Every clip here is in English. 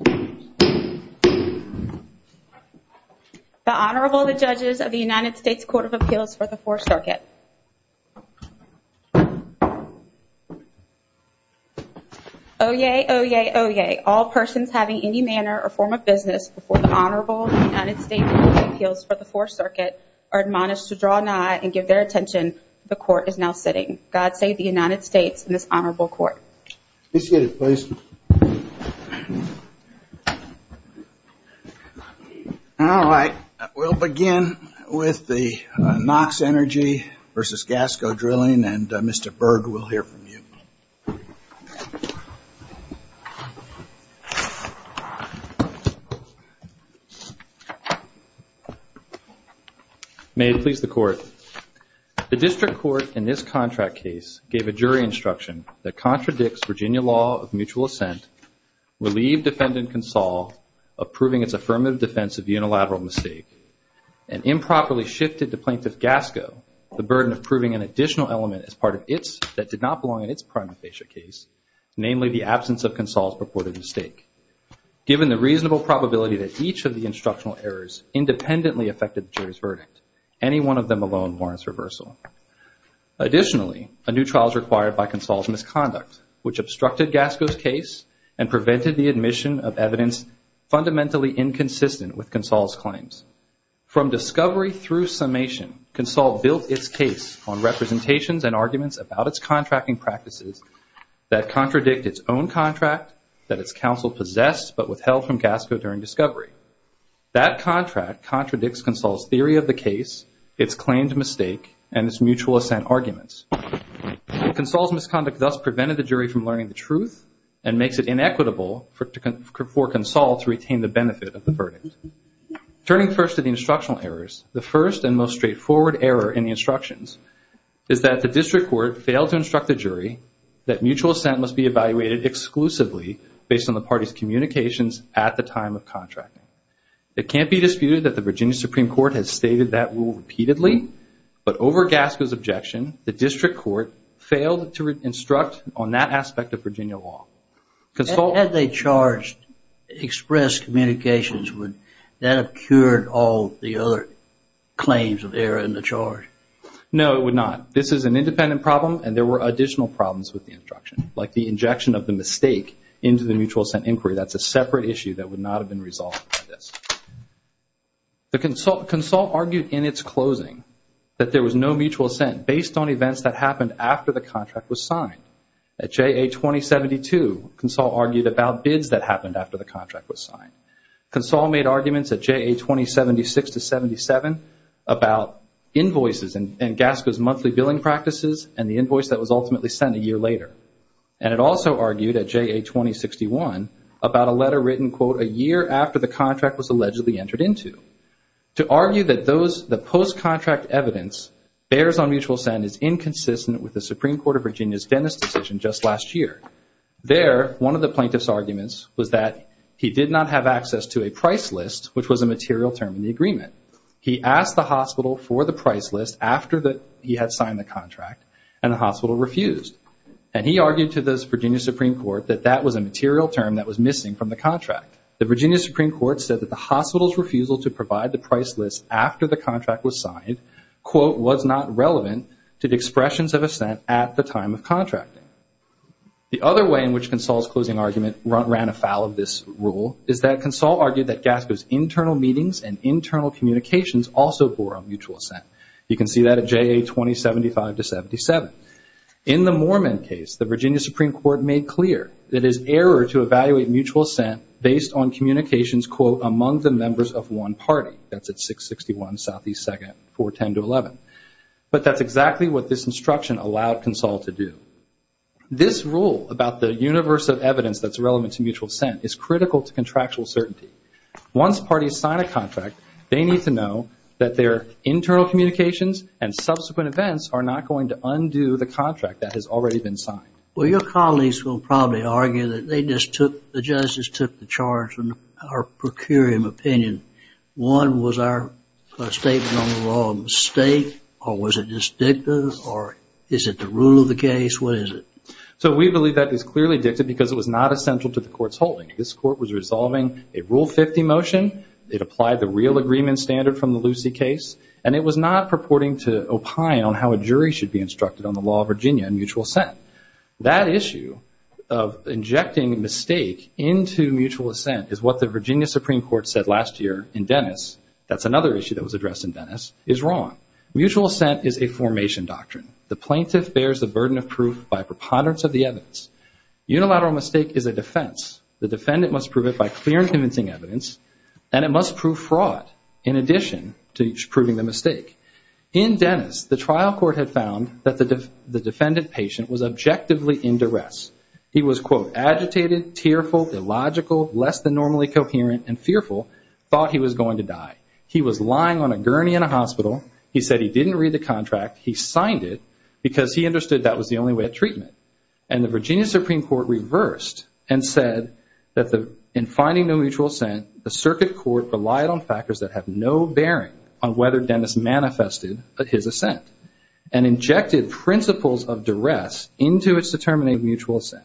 The Honorable, the Judges of the United States Court of Appeals for the 4th Circuit. Oyez! Oyez! Oyez! All persons having any manner or form of business before the Honorable United States Court of Appeals for the 4th Circuit are admonished to draw nigh and give their attention. The Court is now sitting. God save the United States and this Honorable Court. Let's get it placed. Alright, we'll begin with the Knox Energy v. Gasco Drilling and Mr. Berg will hear from you. May it please the Court. The District Court in this contract case gave a jury instruction that contradicts Virginia law of mutual assent, relieved Defendant Consall of proving its affirmative defense of unilateral mistake, and improperly shifted to Plaintiff Gasco the burden of proving an additional element as part of its that did not belong in its prima facie case, namely the absence of Consall's purported mistake. Given the reasonable probability that each of the instructional errors independently affected the jury's verdict, any one of them alone warrants reversal. Additionally, a new trial is required by Consall's misconduct, which obstructed Gasco's case and prevented the admission of evidence fundamentally inconsistent with Consall's claims. From discovery through summation, Consall built its case on representations and arguments about its contracting practices that contradict its own contract that its counsel possessed but withheld from Gasco during discovery. That contract contradicts Consall's theory of the case, its claimed mistake, and its mutual assent arguments. Consall's misconduct thus prevented the jury from learning the truth and makes it inequitable for Consall to retain the benefit of the verdict. Turning first to the instructional errors, the first and most straightforward error in the instructions is that the District Court failed to instruct the jury that mutual assent must be evaluated exclusively based on the parties communications at the time of contracting. It can't be disputed that the Virginia Supreme Court has stated that rule repeatedly, but over Gasco's objection, the District Court failed to instruct on that aspect of Virginia law. Had they charged express communications, would that have cured all the other claims of error in the charge? No, it would not. This is an independent problem, and there were additional problems with the instruction, like the injection of the mistake into the mutual assent inquiry. That's a separate issue that would not have been resolved by this. Consall argued in its closing that there was no mutual assent based on events that happened after the contract was signed. At JA 2072, Consall argued about bids that happened after the contract was signed. Consall made arguments at JA 2076-77 about invoices and Gasco's monthly billing practices and the invoice that was ultimately sent a year later. And it also argued at JA 2061 about a letter written, quote, a year after the contract was allegedly entered into. To argue that the post-contract evidence bears on mutual assent is inconsistent with the Supreme Court of Virginia's Dennis decision just last year. There, one of the plaintiff's arguments was that he did not have access to a price list, which was a material term in the agreement. He asked the hospital for the price list after he had signed the contract, and the hospital refused. And he argued to the Virginia Supreme Court that that was a material term that was missing from the contract. The Virginia Supreme Court said that the hospital's refusal to provide the price list after the contract was signed, quote, was not relevant to the expressions of assent at the time of contracting. The other way in which Consall's closing argument ran afoul of this rule is that Consall argued that Gasco's internal meetings and internal communications also bore on mutual assent. You can see that at JA 2075-77. In the Mormon case, the Virginia Supreme Court made clear that it is error to evaluate mutual assent based on communications, quote, but that's exactly what this instruction allowed Consall to do. This rule about the universe of evidence that's relevant to mutual assent is critical to contractual certainty. Once parties sign a contract, they need to know that their internal communications and subsequent events are not going to undo the contract that has already been signed. Well, your colleagues will probably argue that they just took, the judges took the charge in our procurium opinion. One, was our statement on the law a mistake, or was it just dictative, or is it the rule of the case? What is it? So we believe that it was clearly dictative because it was not essential to the court's holding. This court was resolving a Rule 50 motion. It applied the real agreement standard from the Lucy case, and it was not purporting to opine on how a jury should be instructed on the law of Virginia and mutual assent. That issue of injecting mistake into mutual assent is what the Virginia Supreme Court said last year in Dennis. That's another issue that was addressed in Dennis, is wrong. Mutual assent is a formation doctrine. The plaintiff bears the burden of proof by preponderance of the evidence. Unilateral mistake is a defense. The defendant must prove it by clear and convincing evidence, and it must prove fraud in addition to proving the mistake. In Dennis, the trial court had found that the defendant patient was objectively in duress. He was, quote, agitated, tearful, illogical, less than normally coherent, and fearful, thought he was going to die. He was lying on a gurney in a hospital. He said he didn't read the contract. He signed it because he understood that was the only way of treatment. And the Virginia Supreme Court reversed and said that in finding no mutual assent, the circuit court relied on factors that have no bearing on whether Dennis manifested his assent and injected principles of duress into its determination of mutual assent.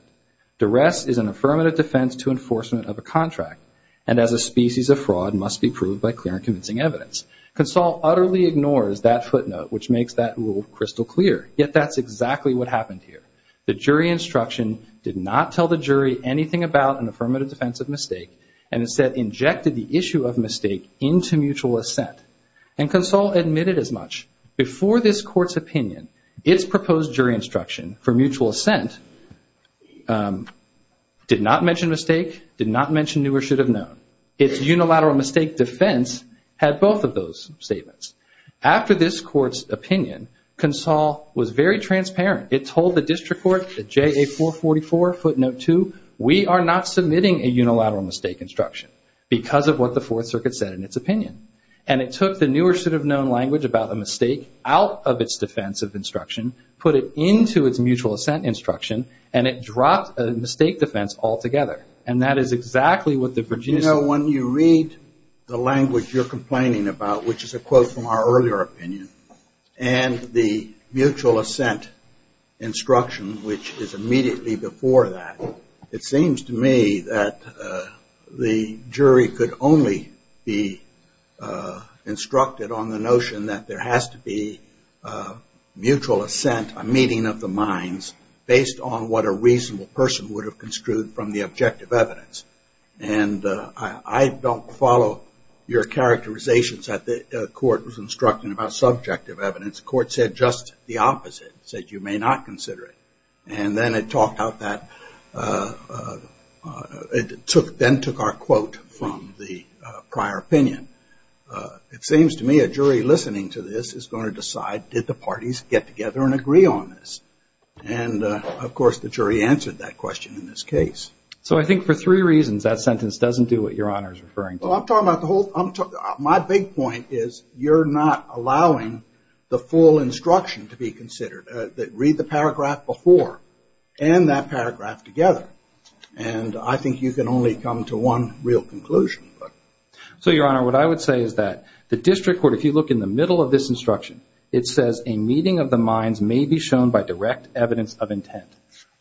Duress is an affirmative defense to enforcement of a contract, and as a species of fraud must be proved by clear and convincing evidence. Console utterly ignores that footnote, which makes that rule crystal clear. Yet that's exactly what happened here. The jury instruction did not tell the jury anything about an affirmative defense of mistake, and instead injected the issue of mistake into mutual assent. And Console admitted as much. Before this court's opinion, its proposed jury instruction for mutual assent did not mention mistake, did not mention knew or should have known. Its unilateral mistake defense had both of those statements. After this court's opinion, Console was very transparent. It told the district court, the JA444 footnote 2, we are not submitting a unilateral mistake instruction because of what the Fourth Circuit said in its opinion. And it took the knew or should have known language about the mistake out of its defense of instruction, put it into its mutual assent instruction, and it dropped a mistake defense altogether. And that is exactly what the Virginia Supreme Court said. You know, when you read the language you're complaining about, which is a quote from our earlier opinion, and the mutual assent instruction, which is immediately before that, it seems to me that the jury could only be instructed on the notion that there has to be mutual assent, a meeting of the minds, based on what a reasonable person would have construed from the objective evidence. And I don't follow your characterizations that the court was instructing about subjective evidence. The court said just the opposite. It said you may not consider it. And then it talked about that. It then took our quote from the prior opinion. It seems to me a jury listening to this is going to decide, did the parties get together and agree on this? And, of course, the jury answered that question in this case. So I think for three reasons that sentence doesn't do what Your Honor is referring to. Well, my big point is you're not allowing the full instruction to be considered. Read the paragraph before and that paragraph together. And I think you can only come to one real conclusion. So, Your Honor, what I would say is that the district court, if you look in the middle of this instruction, it says a meeting of the minds may be shown by direct evidence of intent.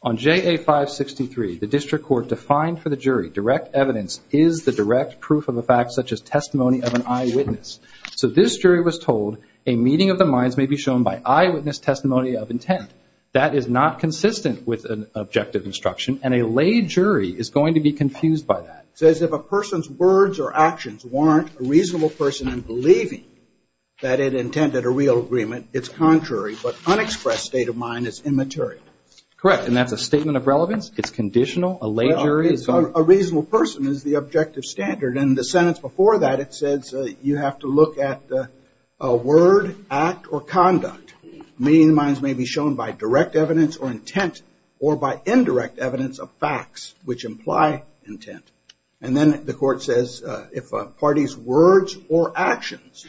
On JA 563, the district court defined for the jury direct evidence is the direct proof of a fact such as testimony of an eyewitness. So this jury was told a meeting of the minds may be shown by eyewitness testimony of intent. That is not consistent with an objective instruction, and a lay jury is going to be confused by that. It says if a person's words or actions warrant a reasonable person in believing that it intended a real agreement, it's contrary, but unexpressed state of mind is immaterial. Correct. And that's a statement of relevance? It's conditional? A lay jury is? A reasonable person is the objective standard. And the sentence before that, it says you have to look at a word, act, or conduct. A meeting of the minds may be shown by direct evidence or intent or by indirect evidence of facts which imply intent. And then the court says if a party's words or actions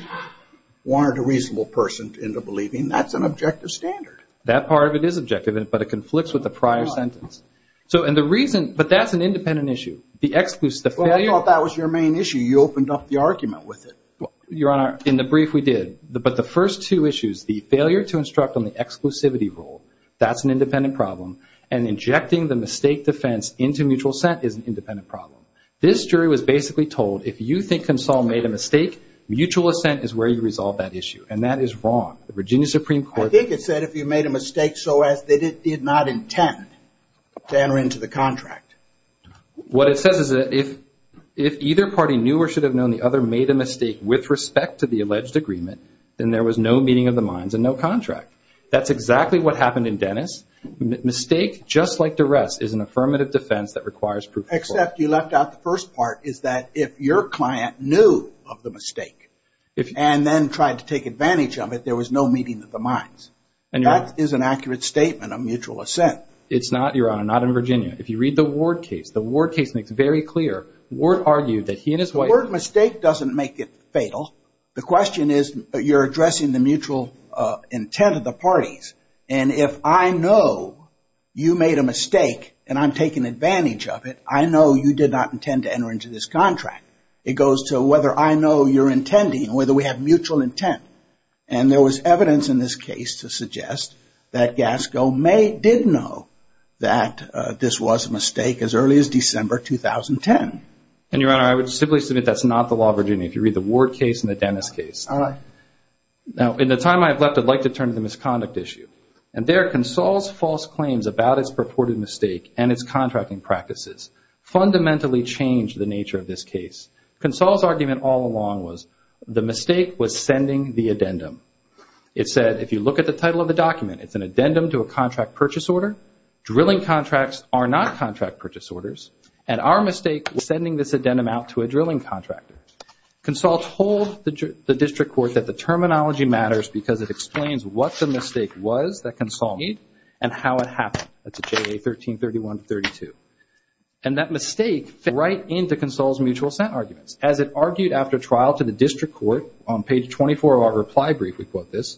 warrant a reasonable person into believing, that's an objective standard. That part of it is objective, but it conflicts with the prior sentence. But that's an independent issue. I thought that was your main issue. You opened up the argument with it. Your Honor, in the brief we did. But the first two issues, the failure to instruct on the exclusivity rule, that's an independent problem. And injecting the mistake defense into mutual assent is an independent problem. This jury was basically told if you think Consol made a mistake, mutual assent is where you resolve that issue. And that is wrong. The Virginia Supreme Court. I think it said if you made a mistake so as they did not intend to enter into the contract. What it says is that if either party knew or should have known the other made a mistake with respect to the alleged agreement, then there was no meeting of the minds and no contract. That's exactly what happened in Dennis. Mistake, just like duress, is an affirmative defense that requires proof. Except you left out the first part, is that if your client knew of the mistake and then tried to take advantage of it, there was no meeting of the minds. And that is an accurate statement of mutual assent. It's not, Your Honor, not in Virginia. If you read the Ward case, the Ward case makes very clear. Ward argued that he and his wife. The word mistake doesn't make it fatal. The question is you're addressing the mutual intent of the parties. And if I know you made a mistake and I'm taking advantage of it, I know you did not intend to enter into this contract. It goes to whether I know you're intending, whether we have mutual intent. And there was evidence in this case to suggest that Gasco did know that this was a mistake as early as December 2010. And, Your Honor, I would simply submit that's not the law of Virginia. If you read the Ward case and the Dennis case. All right. Now, in the time I have left, I'd like to turn to the misconduct issue. And there, Console's false claims about its purported mistake and its contracting practices fundamentally changed the nature of this case. Console's argument all along was the mistake was sending the addendum. It said if you look at the title of the document, it's an addendum to a contract purchase order. Drilling contracts are not contract purchase orders. And our mistake was sending this addendum out to a drilling contractor. Console told the district court that the terminology matters because it explains what the mistake was that Console made and how it happened. That's at JA 1331-32. And that mistake fit right into Console's mutual assent arguments. As it argued after trial to the district court on page 24 of our reply brief, we quote this,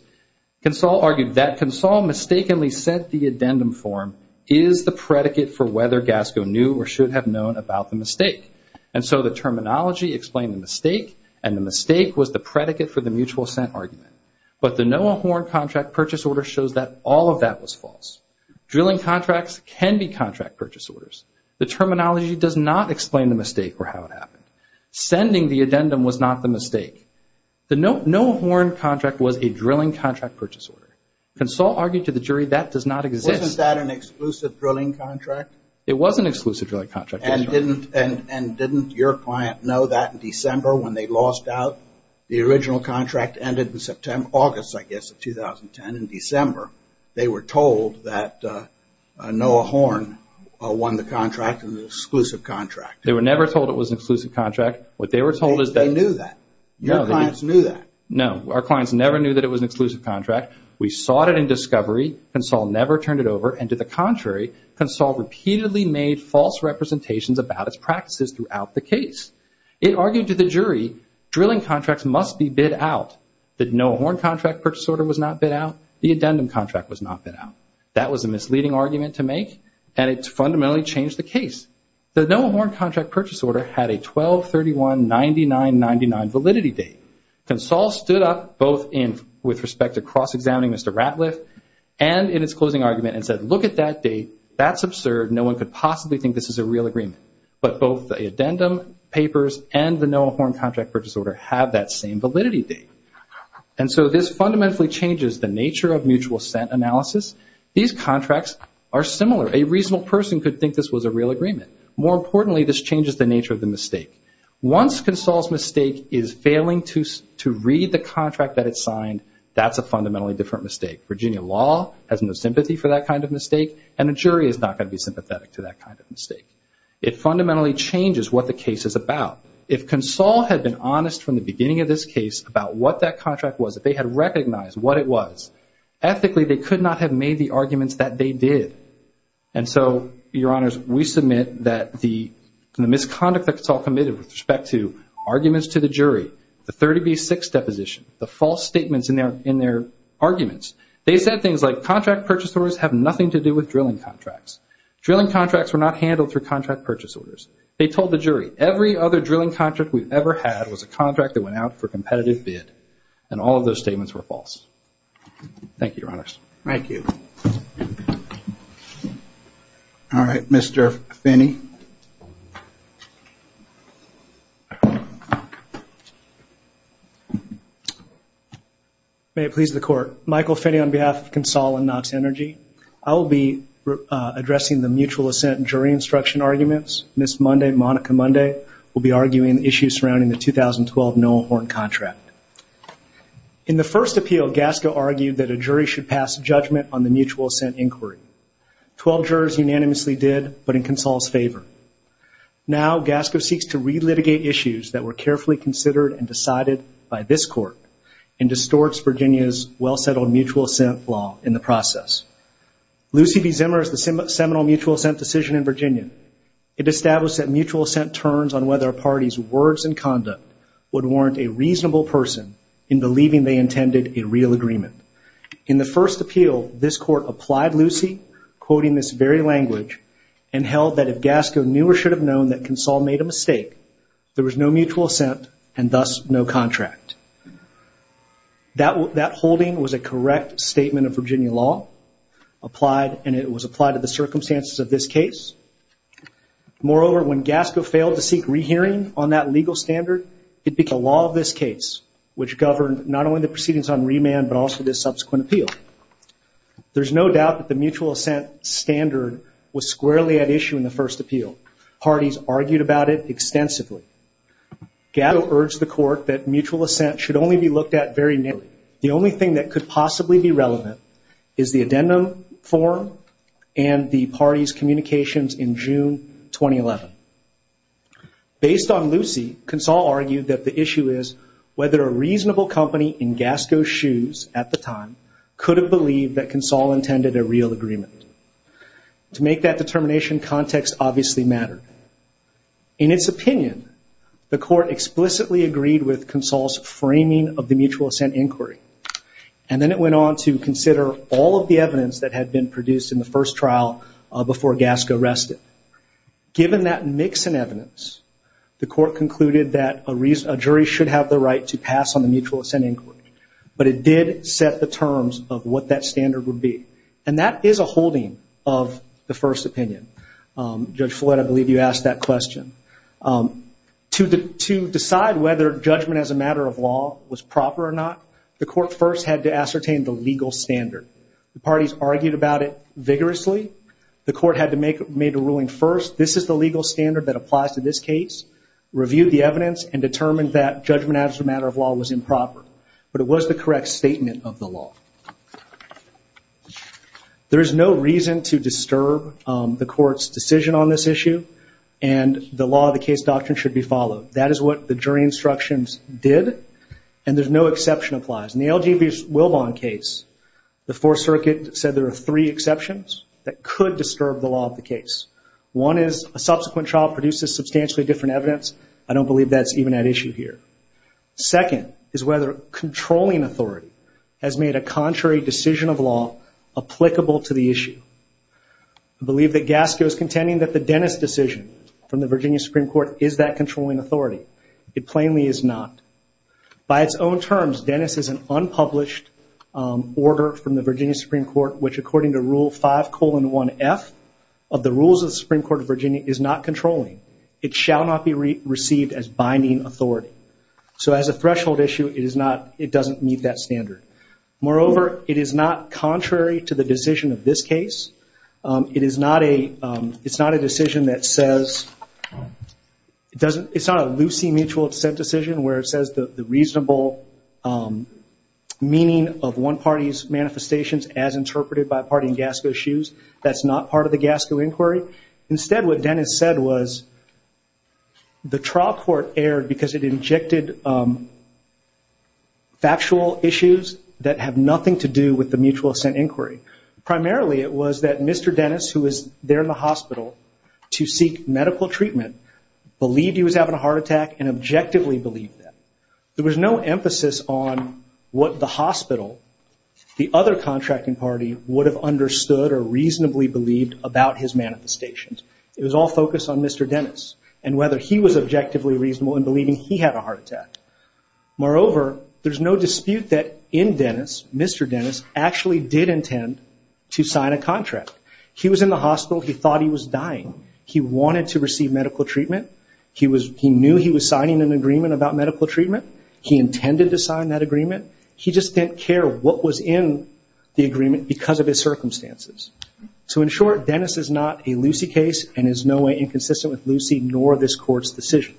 Console argued that Console mistakenly sent the addendum form is the predicate for whether Gasco knew or should have known about the mistake. And so the terminology explained the mistake and the mistake was the predicate for the mutual assent argument. But the Noah Horne contract purchase order shows that all of that was false. Drilling contracts can be contract purchase orders. The terminology does not explain the mistake or how it happened. Sending the addendum was not the mistake. The Noah Horne contract was a drilling contract purchase order. Console argued to the jury that does not exist. Wasn't that an exclusive drilling contract? It was an exclusive drilling contract. And didn't your client know that in December when they lost out? The original contract ended in August, I guess, of 2010 in December. They were told that Noah Horne won the contract, an exclusive contract. They were never told it was an exclusive contract. What they were told is that. They knew that. Your clients knew that. No. Our clients never knew that it was an exclusive contract. We sought it in discovery. Console never turned it over. And to the contrary, Console repeatedly made false representations about its practices throughout the case. It argued to the jury drilling contracts must be bid out. The Noah Horne contract purchase order was not bid out. The addendum contract was not bid out. That was a misleading argument to make, and it fundamentally changed the case. The Noah Horne contract purchase order had a 12-31-99-99 validity date. Console stood up both with respect to cross-examining Mr. Ratliff and in its closing argument and said, look at that date. That's absurd. No one could possibly think this is a real agreement. But both the addendum papers and the Noah Horne contract purchase order have that same validity date. And so this fundamentally changes the nature of mutual assent analysis. These contracts are similar. A reasonable person could think this was a real agreement. More importantly, this changes the nature of the mistake. Once Console's mistake is failing to read the contract that it signed, that's a fundamentally different mistake. Virginia law has no sympathy for that kind of mistake, and a jury is not going to be sympathetic to that kind of mistake. It fundamentally changes what the case is about. If Console had been honest from the beginning of this case about what that contract was, if they had recognized what it was, ethically they could not have made the arguments that they did. And so, Your Honors, we submit that the misconduct that Console committed with respect to arguments to the jury, the 30B6 deposition, the false statements in their arguments, they said things like contract purchase orders have nothing to do with drilling contracts. Drilling contracts were not handled through contract purchase orders. They told the jury every other drilling contract we've ever had was a contract that went out for competitive bid, and all of those statements were false. Thank you, Your Honors. Thank you. All right, Mr. Finney. May it please the Court. Michael Finney on behalf of Console and Knox Energy. I will be addressing the mutual assent jury instruction arguments. Ms. Monday, Monica Monday, will be arguing the issues surrounding the 2012 Noah Horn contract. In the first appeal, Gasco argued that a jury should pass judgment on the mutual assent inquiry. Twelve jurors unanimously did, but in Console's favor. Now Gasco seeks to re-litigate issues that were carefully considered and decided by this Court and distorts Virginia's well-settled mutual assent law in the process. Lucy B. Zimmer is the seminal mutual assent decision in Virginia. It established that mutual assent turns on whether a party's words and conduct would warrant a reasonable person in believing they intended a real agreement. In the first appeal, this Court applied Lucy, quoting this very language, and held that if Gasco knew or should have known that Console made a mistake, there was no mutual assent and thus no contract. That holding was a correct statement of Virginia law, and it was applied to the circumstances of this case. Moreover, when Gasco failed to seek re-hearing on that legal standard, it became the law of this case, which governed not only the proceedings on remand, but also this subsequent appeal. There's no doubt that the mutual assent standard was squarely at issue in the first appeal. Parties argued about it extensively. Gasco urged the Court that mutual assent should only be looked at very narrowly. The only thing that could possibly be relevant is the addendum form and the parties' communications in June 2011. Based on Lucy, Console argued that the issue is whether a reasonable company in Gasco's shoes at the time could have believed that Console intended a real agreement. To make that determination, context obviously mattered. In its opinion, the Court explicitly agreed with Console's framing of the mutual assent inquiry, and then it went on to consider all of the evidence that had been produced in the first trial before Gasco rested. Given that mix in evidence, the Court concluded that a jury should have the right to pass on the mutual assent inquiry, but it did set the terms of what that standard would be. And that is a holding of the first opinion. Judge Follett, I believe you asked that question. To decide whether judgment as a matter of law was proper or not, the Court first had to ascertain the legal standard. The parties argued about it vigorously. The Court had to make a ruling first, this is the legal standard that applies to this case, reviewed the evidence, and determined that judgment as a matter of law was improper. But it was the correct statement of the law. There is no reason to disturb the Court's decision on this issue, and the law of the case doctrine should be followed. That is what the jury instructions did, and there's no exception applies. In the LGBT Wilbon case, the Fourth Circuit said there are three exceptions that could disturb the law of the case. One is a subsequent trial produces substantially different evidence. I don't believe that's even at issue here. Second is whether controlling authority has made a contrary decision of law applicable to the issue. I believe that Gasco is contending that the Dennis decision from the Virginia Supreme Court is that controlling authority. It plainly is not. By its own terms, Dennis is an unpublished order from the Virginia Supreme Court which according to Rule 5, colon, 1F, of the rules of the Supreme Court of Virginia is not controlling. It shall not be received as binding authority. So as a threshold issue, it doesn't meet that standard. Moreover, it is not contrary to the decision of this case. It's not a decision that says – it's not a loosey mutual descent decision where it says the reasonable meaning of one party's manifestations as interpreted by a party in Gasco's shoes. That's not part of the Gasco inquiry. Instead, what Dennis said was the trial court erred because it injected factual issues that have nothing to do with the mutual ascent inquiry. Primarily, it was that Mr. Dennis, who was there in the hospital to seek medical treatment, believed he was having a heart attack and objectively believed that. There was no emphasis on what the hospital, the other contracting party, would have understood or reasonably believed about his manifestations. It was all focused on Mr. Dennis and whether he was objectively reasonable in believing he had a heart attack. Moreover, there's no dispute that in Dennis, Mr. Dennis actually did intend to sign a contract. He was in the hospital. He thought he was dying. He wanted to receive medical treatment. He knew he was signing an agreement about medical treatment. He intended to sign that agreement. He just didn't care what was in the agreement because of his circumstances. So in short, Dennis is not a Lucy case and is in no way inconsistent with Lucy nor this Court's decision.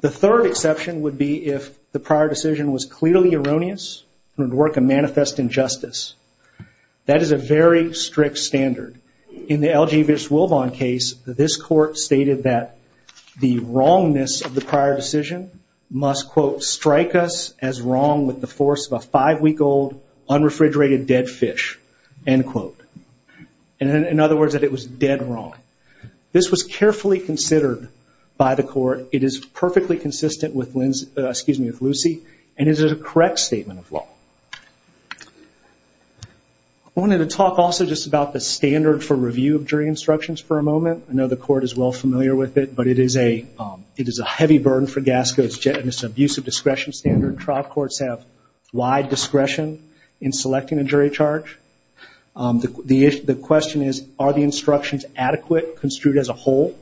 The third exception would be if the prior decision was clearly erroneous and would work a manifest injustice. That is a very strict standard. In the L. G. Biswilvon case, this Court stated that the wrongness of the prior decision must, quote, strike us as wrong with the force of a five-week-old unrefrigerated dead fish, end quote. In other words, that it was dead wrong. This was carefully considered by the Court. It is perfectly consistent with Lucy and is a correct statement of law. I wanted to talk also just about the standard for review of jury instructions for a moment. I know the Court is well familiar with it, but it is a heavy burden for GASCO. It's an abusive discretion standard. Trial courts have wide discretion in selecting a jury charge. The question is, are the instructions adequate, construed as a whole,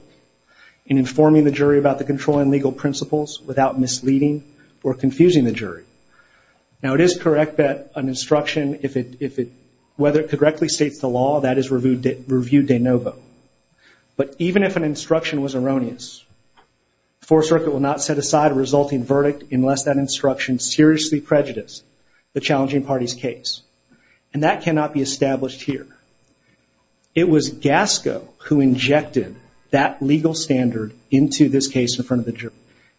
in informing the jury about the controlling legal principles without misleading or confusing the jury? Now it is correct that an instruction, whether it correctly states the law, that is review de novo. But even if an instruction was erroneous, the Fourth Circuit will not set aside a resulting verdict unless that instruction seriously prejudiced the challenging party's case. And that cannot be established here. It was GASCO who injected that legal standard into this case in front of the jury.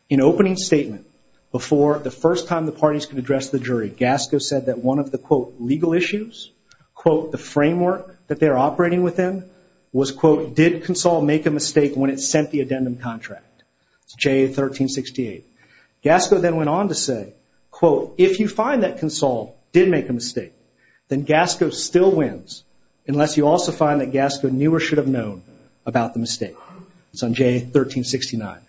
In opening statement, before the first time the parties could address the jury, GASCO said that one of the, quote, legal issues, quote, the framework that they're operating within, was, quote, did CONSOL make a mistake when it sent the addendum contract? It's JA 1368. GASCO then went on to say, quote, if you find that CONSOL did make a mistake, then GASCO still wins, unless you also find that GASCO knew or should have known about the mistake. It's on JA 1369.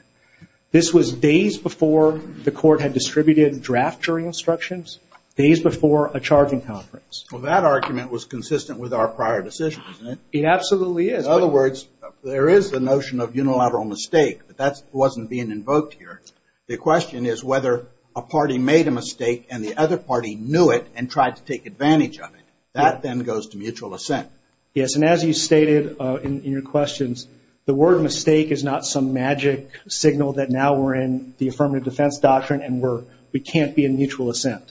This was days before the court had distributed draft jury instructions, days before a charging conference. Well, that argument was consistent with our prior decisions, isn't it? It absolutely is. In other words, there is the notion of unilateral mistake, but that wasn't being invoked here. The question is whether a party made a mistake and the other party knew it and tried to take advantage of it. That then goes to mutual assent. Yes, and as you stated in your questions, the word mistake is not some magic signal that now we're in the affirmative defense doctrine and we can't be in mutual assent.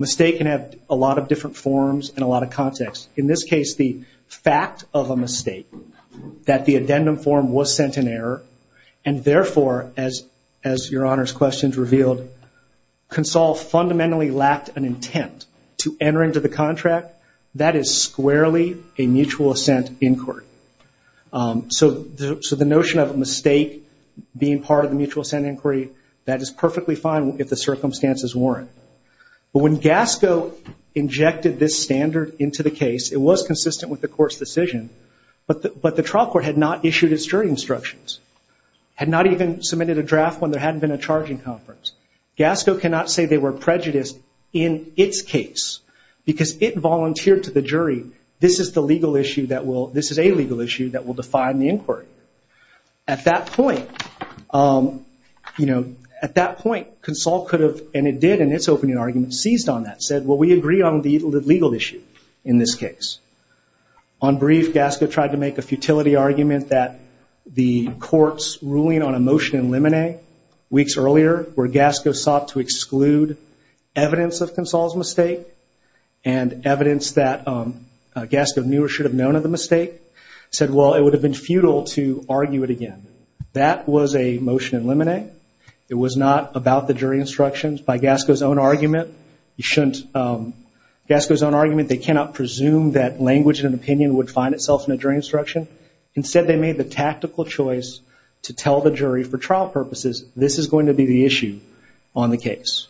Mistake can have a lot of different forms and a lot of context. In this case, the fact of a mistake, that the addendum form was sent in error, and therefore, as your Honor's questions revealed, CONSOL fundamentally lacked an intent to enter into the contract, that is squarely a mutual assent in court. So the notion of a mistake being part of the mutual assent inquiry, that is perfectly fine if the circumstances warrant. But when GASCO injected this standard into the case, it was consistent with the court's decision, but the trial court had not issued its jury instructions, had not even submitted a draft when there hadn't been a charging conference. GASCO cannot say they were prejudiced in its case, because it volunteered to the jury, this is a legal issue that will define the inquiry. At that point, CONSOL could have, and it did in its opening argument, seized on that, said, well, we agree on the legal issue in this case. On brief, GASCO tried to make a futility argument that the court's ruling on a motion in limine, weeks earlier, where GASCO sought to exclude evidence of CONSOL's mistake and evidence that GASCO knew or should have known of the mistake, said, well, it would have been futile to argue it again. That was a motion in limine. It was not about the jury instructions. By GASCO's own argument, they cannot presume that language and opinion would find itself in a jury instruction. Instead, they made the tactical choice to tell the jury, for trial purposes, this is going to be the issue on the case.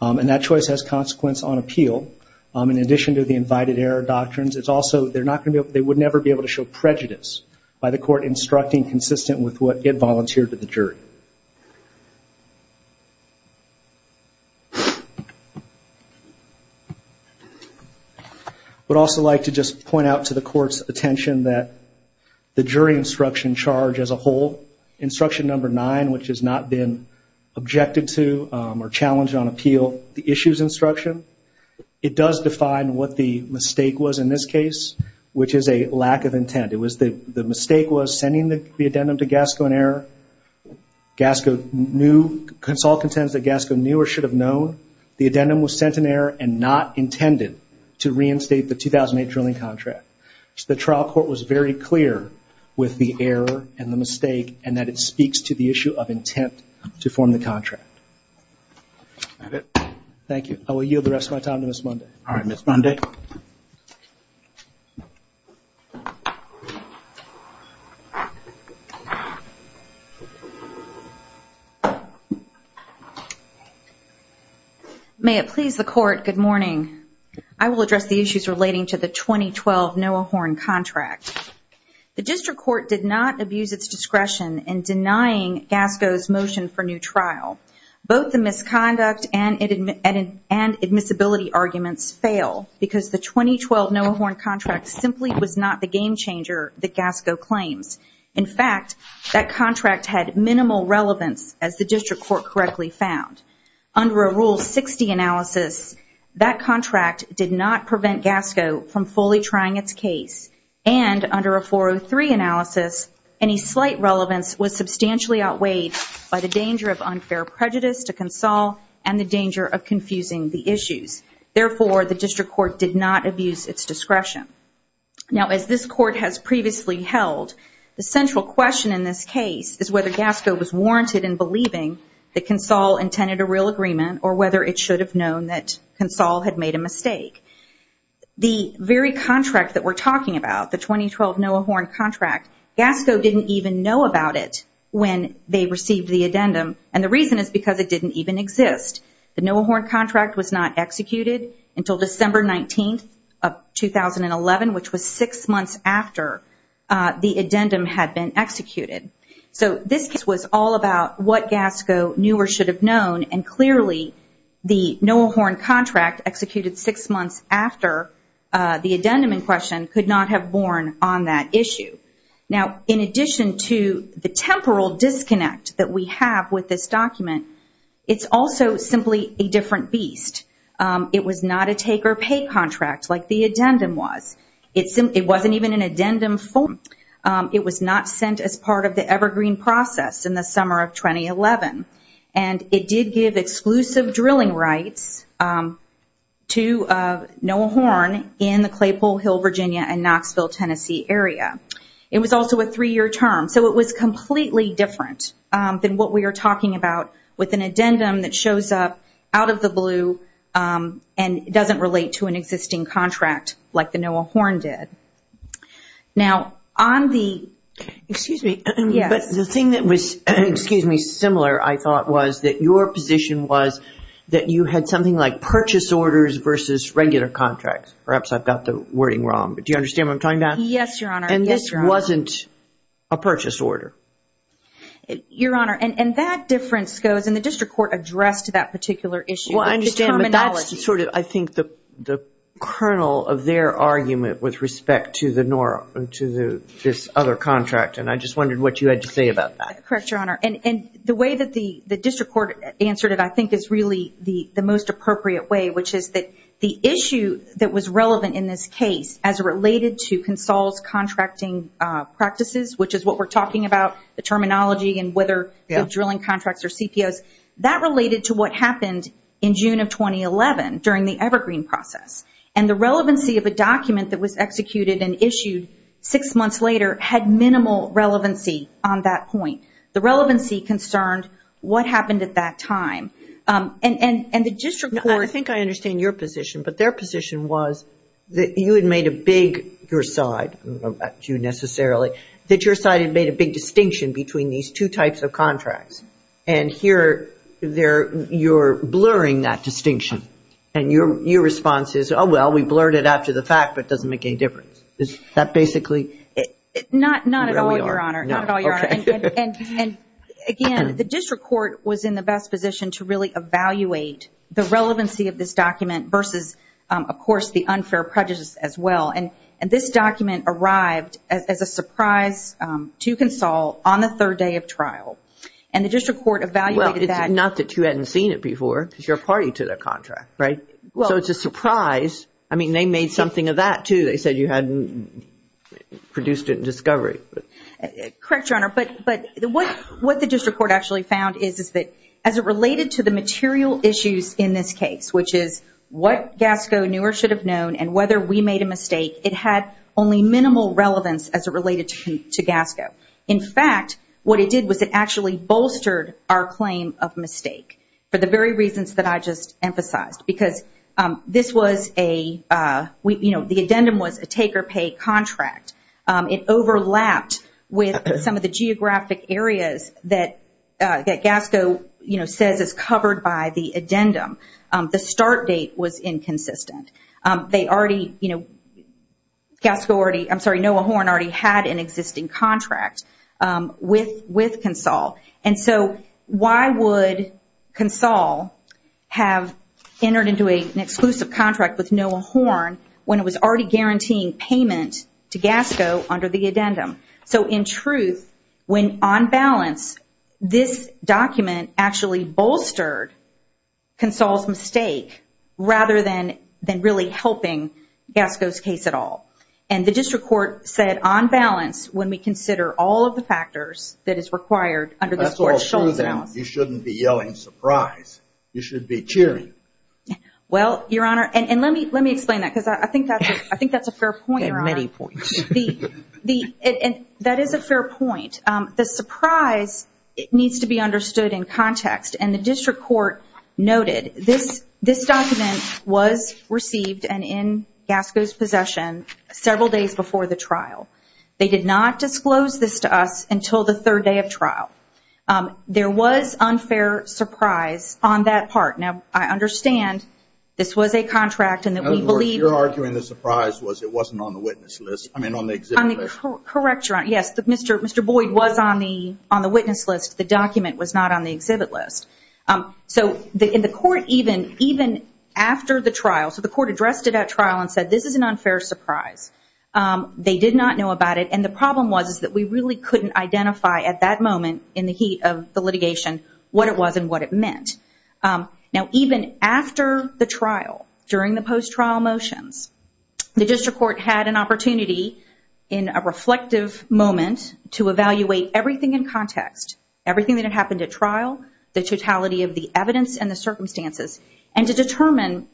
That choice has consequence on appeal. In addition to the invited error doctrines, they would never be able to show prejudice by the court instructing consistent with what it volunteered to the jury. I would also like to just point out to the court's attention that the jury instruction charge as a whole, instruction number nine, which has not been objected to or challenged on appeal, the issues instruction, it does define what the mistake was in this case, which is a lack of intent. The mistake was sending the addendum to GASCO in error. GASCO knew, CONSOL contends that GASCO knew or should have known the addendum was sent in error and not intended to reinstate the 2008 drilling contract. The trial court was very clear with the error and the mistake and that it speaks to the issue of intent to form the contract. Thank you. I will yield the rest of my time to Ms. Mundy. All right, Ms. Mundy. May it please the court, good morning. I will address the issues relating to the 2012 Noah Horn contract. The district court did not abuse its discretion in denying GASCO's motion for new trial. Both the misconduct and admissibility arguments fail because the 2012 Noah Horn contract simply was not the game changer that GASCO claims. In fact, that contract had minimal relevance, as the district court correctly found. Under a Rule 60 analysis, that contract did not prevent GASCO from fully trying its case, and under a 403 analysis, any slight relevance was substantially outweighed by the danger of unfair prejudice to CONSOL and the danger of confusing the issues. Therefore, the district court did not abuse its discretion. Now, as this court has previously held, the central question in this case is whether GASCO was warranted in believing that CONSOL intended a real agreement or whether it should have known that CONSOL had made a mistake. The very contract that we're talking about, the 2012 Noah Horn contract, GASCO didn't even know about it when they received the addendum, and the reason is because it didn't even exist. The Noah Horn contract was not executed until December 19, 2011, which was six months after the addendum had been executed. So this case was all about what GASCO knew or should have known, and clearly the Noah Horn contract executed six months after the addendum in question could not have borne on that issue. Now, in addition to the temporal disconnect that we have with this document, it's also simply a different beast. It was not a take-or-pay contract like the addendum was. It wasn't even an addendum form. It was not sent as part of the Evergreen process in the summer of 2011, and it did give exclusive drilling rights to Noah Horn in the Claypole Hill, Virginia, and Knoxville, Tennessee area. It was also a three-year term, so it was completely different than what we are talking about with an addendum that shows up out of the blue and doesn't relate to an existing contract like the Noah Horn did. Now, on the... Excuse me, but the thing that was similar, I thought, was that your position was that you had something like purchase orders versus regular contracts. Perhaps I've got the wording wrong, but do you understand what I'm talking about? Yes, Your Honor. And this wasn't a purchase order. Your Honor, and that difference goes, and the district court addressed that particular issue. Well, I understand, but that's sort of, I think, the kernel of their argument with respect to this other contract, and I just wondered what you had to say about that. Correct, Your Honor. And the way that the district court answered it, I think, is really the most appropriate way, which is that the issue that was relevant in this case as related to Consol's contracting practices, which is what we're talking about, the terminology and whether the drilling contracts are CPOs, that related to what happened in June of 2011 during the Evergreen process. And the relevancy of a document that was executed and issued six months later had minimal relevancy on that point. The relevancy concerned what happened at that time. And the district court... I think I understand your position, but their position was that you had made a big, your side, not you necessarily, that your side had made a big distinction between these two types of contracts. And here you're blurring that distinction. And your response is, oh, well, we blurred it out to the fact, but it doesn't make any difference. Is that basically... Not at all, Your Honor. Not at all, Your Honor. Okay. And, again, the district court was in the best position to really evaluate the relevancy of this document versus, of course, the unfair prejudice as well. And this document arrived as a surprise to Consol on the third day of trial. And the district court evaluated that... Well, it's not that you hadn't seen it before, because you're a party to their contract, right? So it's a surprise. I mean, they made something of that, too. They said you hadn't produced it in discovery. Correct, Your Honor. But what the district court actually found is that as it related to the material issues in this case, which is what GASCO knew or should have known and whether we made a mistake, it had only minimal relevance as it related to GASCO. In fact, what it did was it actually bolstered our claim of mistake for the very reasons that I just emphasized. Because this was a... The addendum was a take-or-pay contract. It overlapped with some of the geographic areas that GASCO says is covered by the addendum. The start date was inconsistent. They already... GASCO already... I'm sorry, Noah Horn already had an existing contract with GASCO. And so why would GASCO have entered into an exclusive contract with Noah Horn when it was already guaranteeing payment to GASCO under the addendum? So in truth, when on balance, this document actually bolstered GASCO's mistake rather than really helping GASCO's case at all. And the district court said on balance, when we consider all of the factors that is required under this court's... That's all true, then. You shouldn't be yelling surprise. You should be cheering. Well, Your Honor, and let me explain that because I think that's a fair point, Your Honor. You have many points. That is a fair point. The surprise needs to be understood in context. And the district court noted this document was received and in GASCO's possession several days before the trial. They did not disclose this to us until the third day of trial. There was unfair surprise on that part. Now, I understand this was a contract and that we believe... In other words, you're arguing the surprise was it wasn't on the witness list. I mean, on the exhibit list. Correct, Your Honor. Yes, Mr. Boyd was on the witness list. The document was not on the exhibit list. So in the court, even after the trial... So the court addressed it at trial and said, this is an unfair surprise. They did not know about it. And the problem was that we really couldn't identify at that moment, in the heat of the litigation, what it was and what it meant. Now, even after the trial, during the post-trial motions, to evaluate everything in context, everything that had happened at trial, the totality of the evidence and the circumstances, and to determine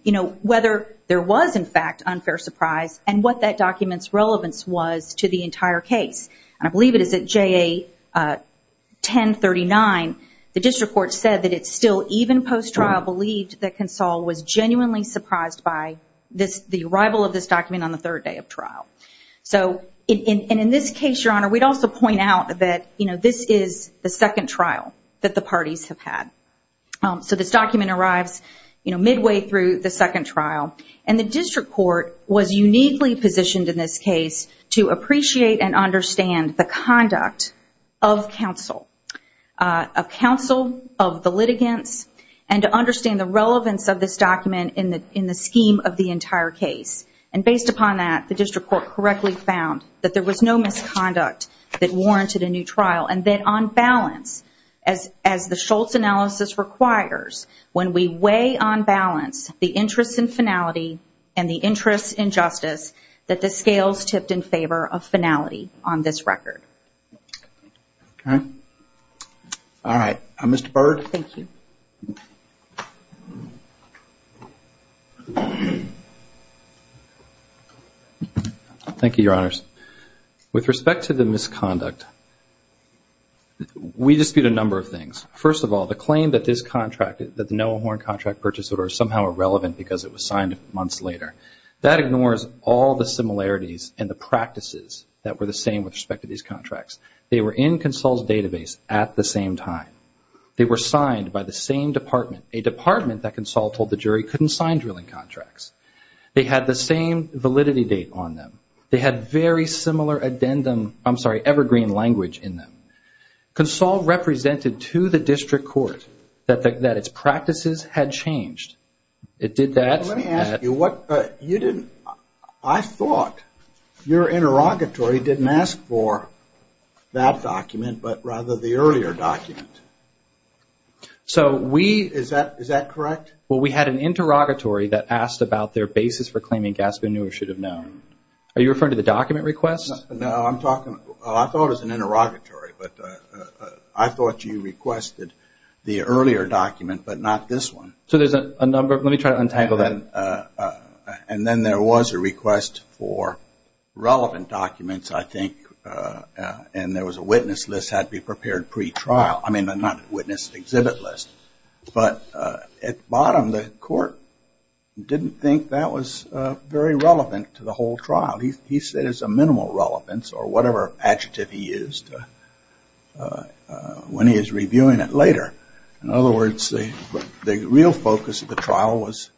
whether there was, in fact, unfair surprise and what that document's relevance was to the entire case. And I believe it is at JA 1039, the district court said that it still, even post-trial, believed that Consol was genuinely surprised by the arrival of this document on the third day of trial. And in this case, Your Honor, we'd also point out that this is the second trial that the parties have had. So this document arrives midway through the second trial, and the district court was uniquely positioned in this case to appreciate and understand the conduct of Consol, of Consol, of the litigants, and to understand the relevance of this document in the scheme of the entire case. And based upon that, the district court correctly found that there was no misconduct that warranted a new trial, and that on balance, as the Schultz analysis requires, when we weigh on balance the interest in finality and the interest in justice, that the scales tipped in favor of finality on this record. All right. All right. Mr. Byrd? Thank you. Thank you, Your Honors. With respect to the misconduct, we dispute a number of things. First of all, the claim that this contract, that the Noah Horne contract purchase order is somehow irrelevant because it was signed months later, that ignores all the similarities and the practices that were the same with respect to these contracts. They were in Consol's database at the same time. They were signed by the same department, a department that Consol told the jury couldn't sign drilling contracts. They had the same validity date on them. They had very similar addendum, I'm sorry, evergreen language in them. Consol represented to the district court that its practices had changed. It did that. Let me ask you, I thought your interrogatory didn't ask for that document, but rather the earlier document. Is that correct? Well, we had an interrogatory that asked about their basis for claiming Gaspin knew or should have known. Are you referring to the document request? No, I'm talking, I thought it was an interrogatory, but I thought you requested the earlier document, but not this one. So there's a number, let me try to untangle that. And then there was a request for relevant documents, I think, and there was a witness list had to be prepared pre-trial. I mean, not witness exhibit list, but at the bottom, the court didn't think that was very relevant to the whole trial. He said it's a minimal relevance or whatever adjective he used when he was reviewing it later. In other words, the real focus of the trial was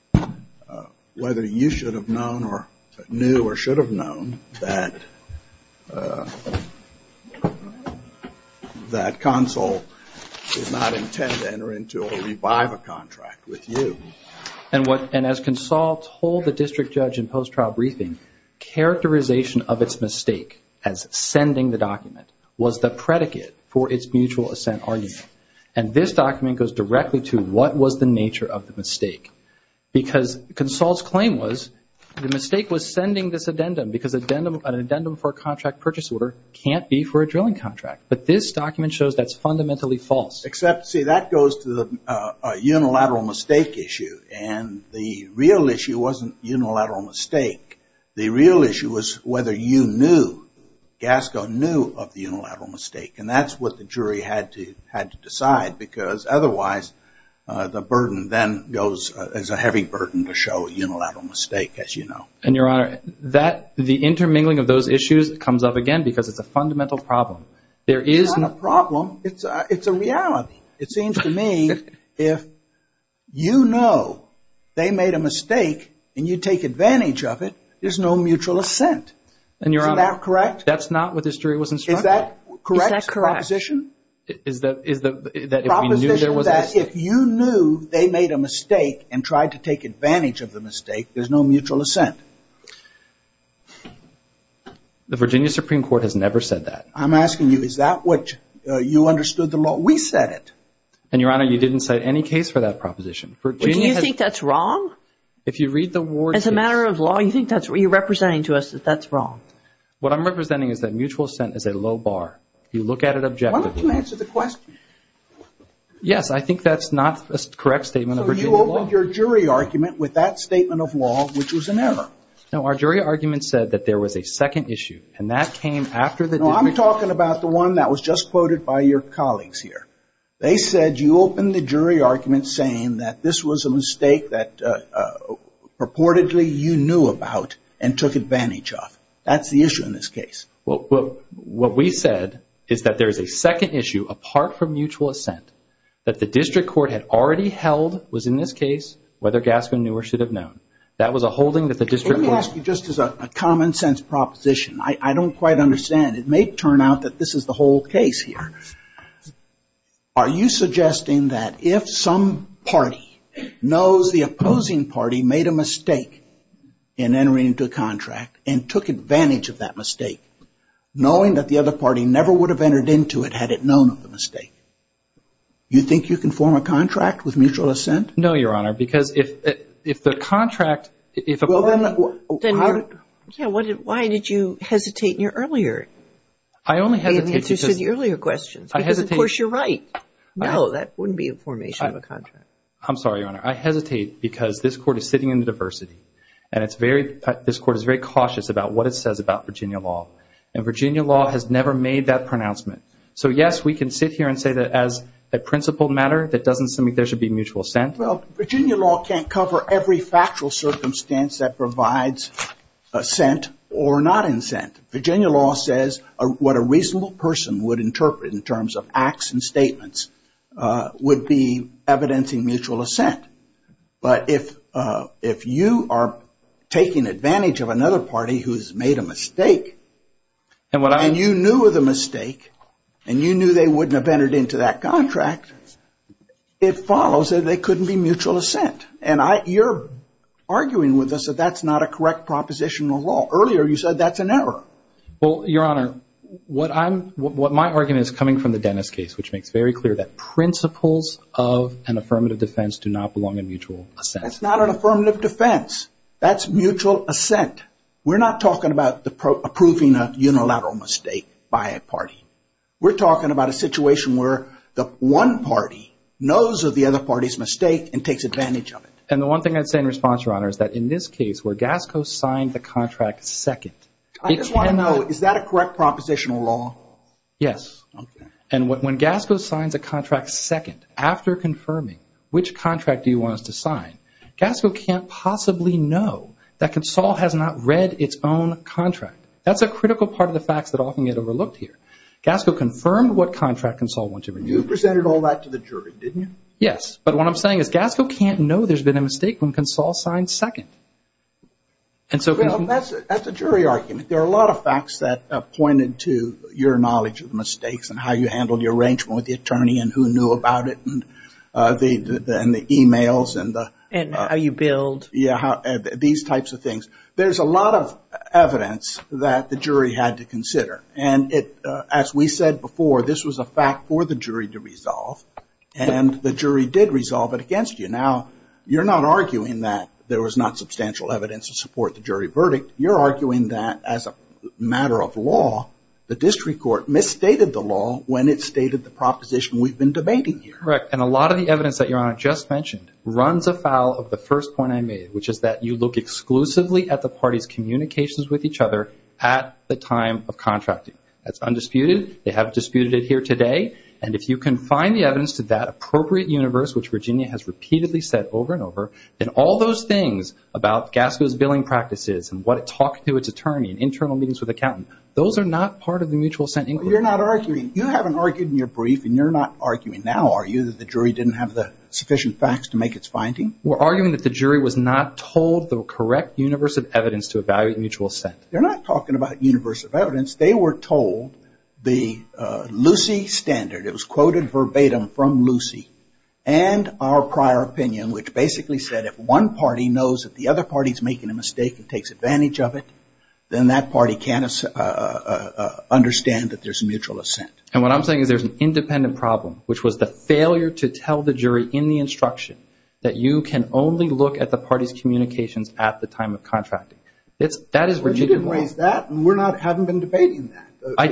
whether you should have known or knew or should have known that Consul did not intend to enter into or revive a contract with you. And as Consul told the district judge in post-trial briefing, characterization of its mistake as sending the document was the predicate for its mutual assent argument. And this document goes directly to what was the nature of the mistake. Because Consul's claim was the mistake was sending this addendum because an addendum for a contract purchase order can't be for a drilling contract. But this document shows that's fundamentally false. Except, see, that goes to the unilateral mistake issue, and the real issue wasn't unilateral mistake. The real issue was whether you knew, Gasco, knew of the unilateral mistake. And that's what the jury had to decide, because otherwise the burden then goes as a heavy burden to show unilateral mistake, as you know. And, Your Honor, the intermingling of those issues comes up again because it's a fundamental problem. It's not a problem. It's a reality. It seems to me if you know they made a mistake and you take advantage of it, there's no mutual assent. Isn't that correct? That's not what the jury was instructed. Is that correct proposition? Proposition that if you knew they made a mistake and tried to take advantage of the mistake, there's no mutual assent. The Virginia Supreme Court has never said that. I'm asking you, is that what you understood the law? We said it. And, Your Honor, you didn't cite any case for that proposition. Do you think that's wrong? If you read the Ward case. As a matter of law, you think that's what you're representing to us, that that's wrong? What I'm representing is that mutual assent is a low bar. You look at it objectively. Why don't you answer the question? Yes, I think that's not a correct statement of Virginia law. So you opened your jury argument with that statement of law, which was an error. No, our jury argument said that there was a second issue, and that came after the No, I'm talking about the one that was just quoted by your colleagues here. They said you opened the jury argument saying that this was a mistake that purportedly you knew about and took advantage of. That's the issue in this case. What we said is that there is a second issue, apart from mutual assent, that the district court had already held was in this case whether Gaskin knew or should have known. That was a holding that the district court Let me ask you just as a common sense proposition. I don't quite understand. It may turn out that this is the whole case here. Are you suggesting that if some party knows the opposing party made a mistake in entering into a contract and took advantage of that mistake, knowing that the other party never would have entered into it had it known of the mistake, you think you can form a contract with mutual assent? No, Your Honor, because if the contract Well, then why did you hesitate in your earlier answers to the earlier questions? Because of course you're right. No, that wouldn't be a formation of a contract. I'm sorry, Your Honor. I hesitate because this court is sitting in the diversity. And this court is very cautious about what it says about Virginia law. And Virginia law has never made that pronouncement. So yes, we can sit here and say that as a principled matter, that doesn't seem like there should be mutual assent. Well, Virginia law can't cover every factual circumstance that provides assent or not assent. Virginia law says what a reasonable person would interpret in terms of acts and But if you are taking advantage of another party who's made a mistake and you knew of the mistake and you knew they wouldn't have entered into that contract, it follows that there couldn't be mutual assent. And you're arguing with us that that's not a correct proposition of law. Earlier you said that's an error. Well, Your Honor, what my argument is coming from the Dennis case, which makes very clear that principles of an affirmative defense do not belong in mutual assent. That's not an affirmative defense. That's mutual assent. We're not talking about approving a unilateral mistake by a party. We're talking about a situation where the one party knows of the other party's mistake and takes advantage of it. And the one thing I'd say in response, Your Honor, is that in this case where Gasco signed the contract second, it cannot I just want to know, is that a correct proposition of law? Yes. Okay. And when Gasco signs a contract second, after confirming which contract he wants to sign, Gasco can't possibly know that Consol has not read its own contract. That's a critical part of the facts that often get overlooked here. Gasco confirmed what contract Consol wants to renew. You presented all that to the jury, didn't you? Yes. But what I'm saying is Gasco can't know there's been a mistake when Consol signs second. That's a jury argument. I mean, there are a lot of facts that pointed to your knowledge of the mistakes and how you handled your arrangement with the attorney and who knew about it and the e-mails and the And how you billed. Yeah. These types of things. There's a lot of evidence that the jury had to consider. And as we said before, this was a fact for the jury to resolve. And the jury did resolve it against you. Now, you're not arguing that there was not substantial evidence to support the jury verdict. You're arguing that as a matter of law, the district court misstated the law when it stated the proposition we've been debating here. Correct. And a lot of the evidence that Your Honor just mentioned runs afoul of the first point I made, which is that you look exclusively at the parties' communications with each other at the time of contracting. That's undisputed. They have disputed it here today. And if you can find the evidence to that appropriate universe, which Virginia has repeatedly said over and over, then all those things about Gasco's billing practices and what it talked to its attorney and internal meetings with accountants, those are not part of the mutual assent inquiry. You're not arguing. You haven't argued in your brief and you're not arguing now, are you, that the jury didn't have the sufficient facts to make its finding? We're arguing that the jury was not told the correct universe of evidence to evaluate mutual assent. They're not talking about universe of evidence. They were told the Lucy standard. It was quoted verbatim from Lucy and our prior opinion, which basically said if one party knows that the other party is making a mistake and takes advantage of it, then that party can't understand that there's mutual assent. And what I'm saying is there's an independent problem, which was the failure to tell the jury in the instruction that you can only look at the parties' communications at the time of contracting. That is Virginia's. You didn't raise that and we haven't been debating that.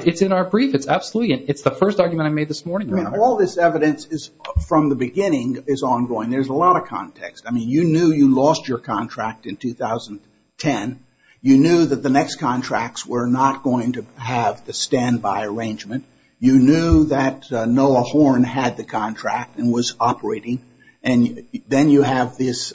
It's in our brief. It's absolutely. It's the first argument I made this morning. All this evidence from the beginning is ongoing. There's a lot of context. I mean, you knew you lost your contract in 2010. You knew that the next contracts were not going to have the standby arrangement. You knew that Noah Horne had the contract and was operating. And then you have this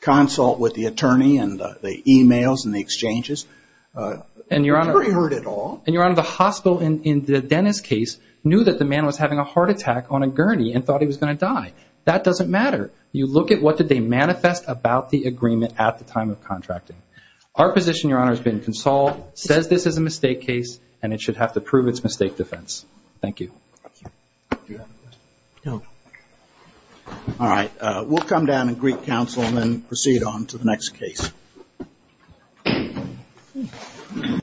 consult with the attorney and the e-mails and the exchanges. The jury heard it all. And, Your Honor, the hospital in the Dennis case knew that the man was having a heart attack on a gurney and thought he was going to die. That doesn't matter. You look at what did they manifest about the agreement at the time of contracting. Our position, Your Honor, has been consoled, says this is a mistake case, and it should have to prove its mistake defense. Thank you. All right. We'll come down and greet counsel and then proceed on to the next case.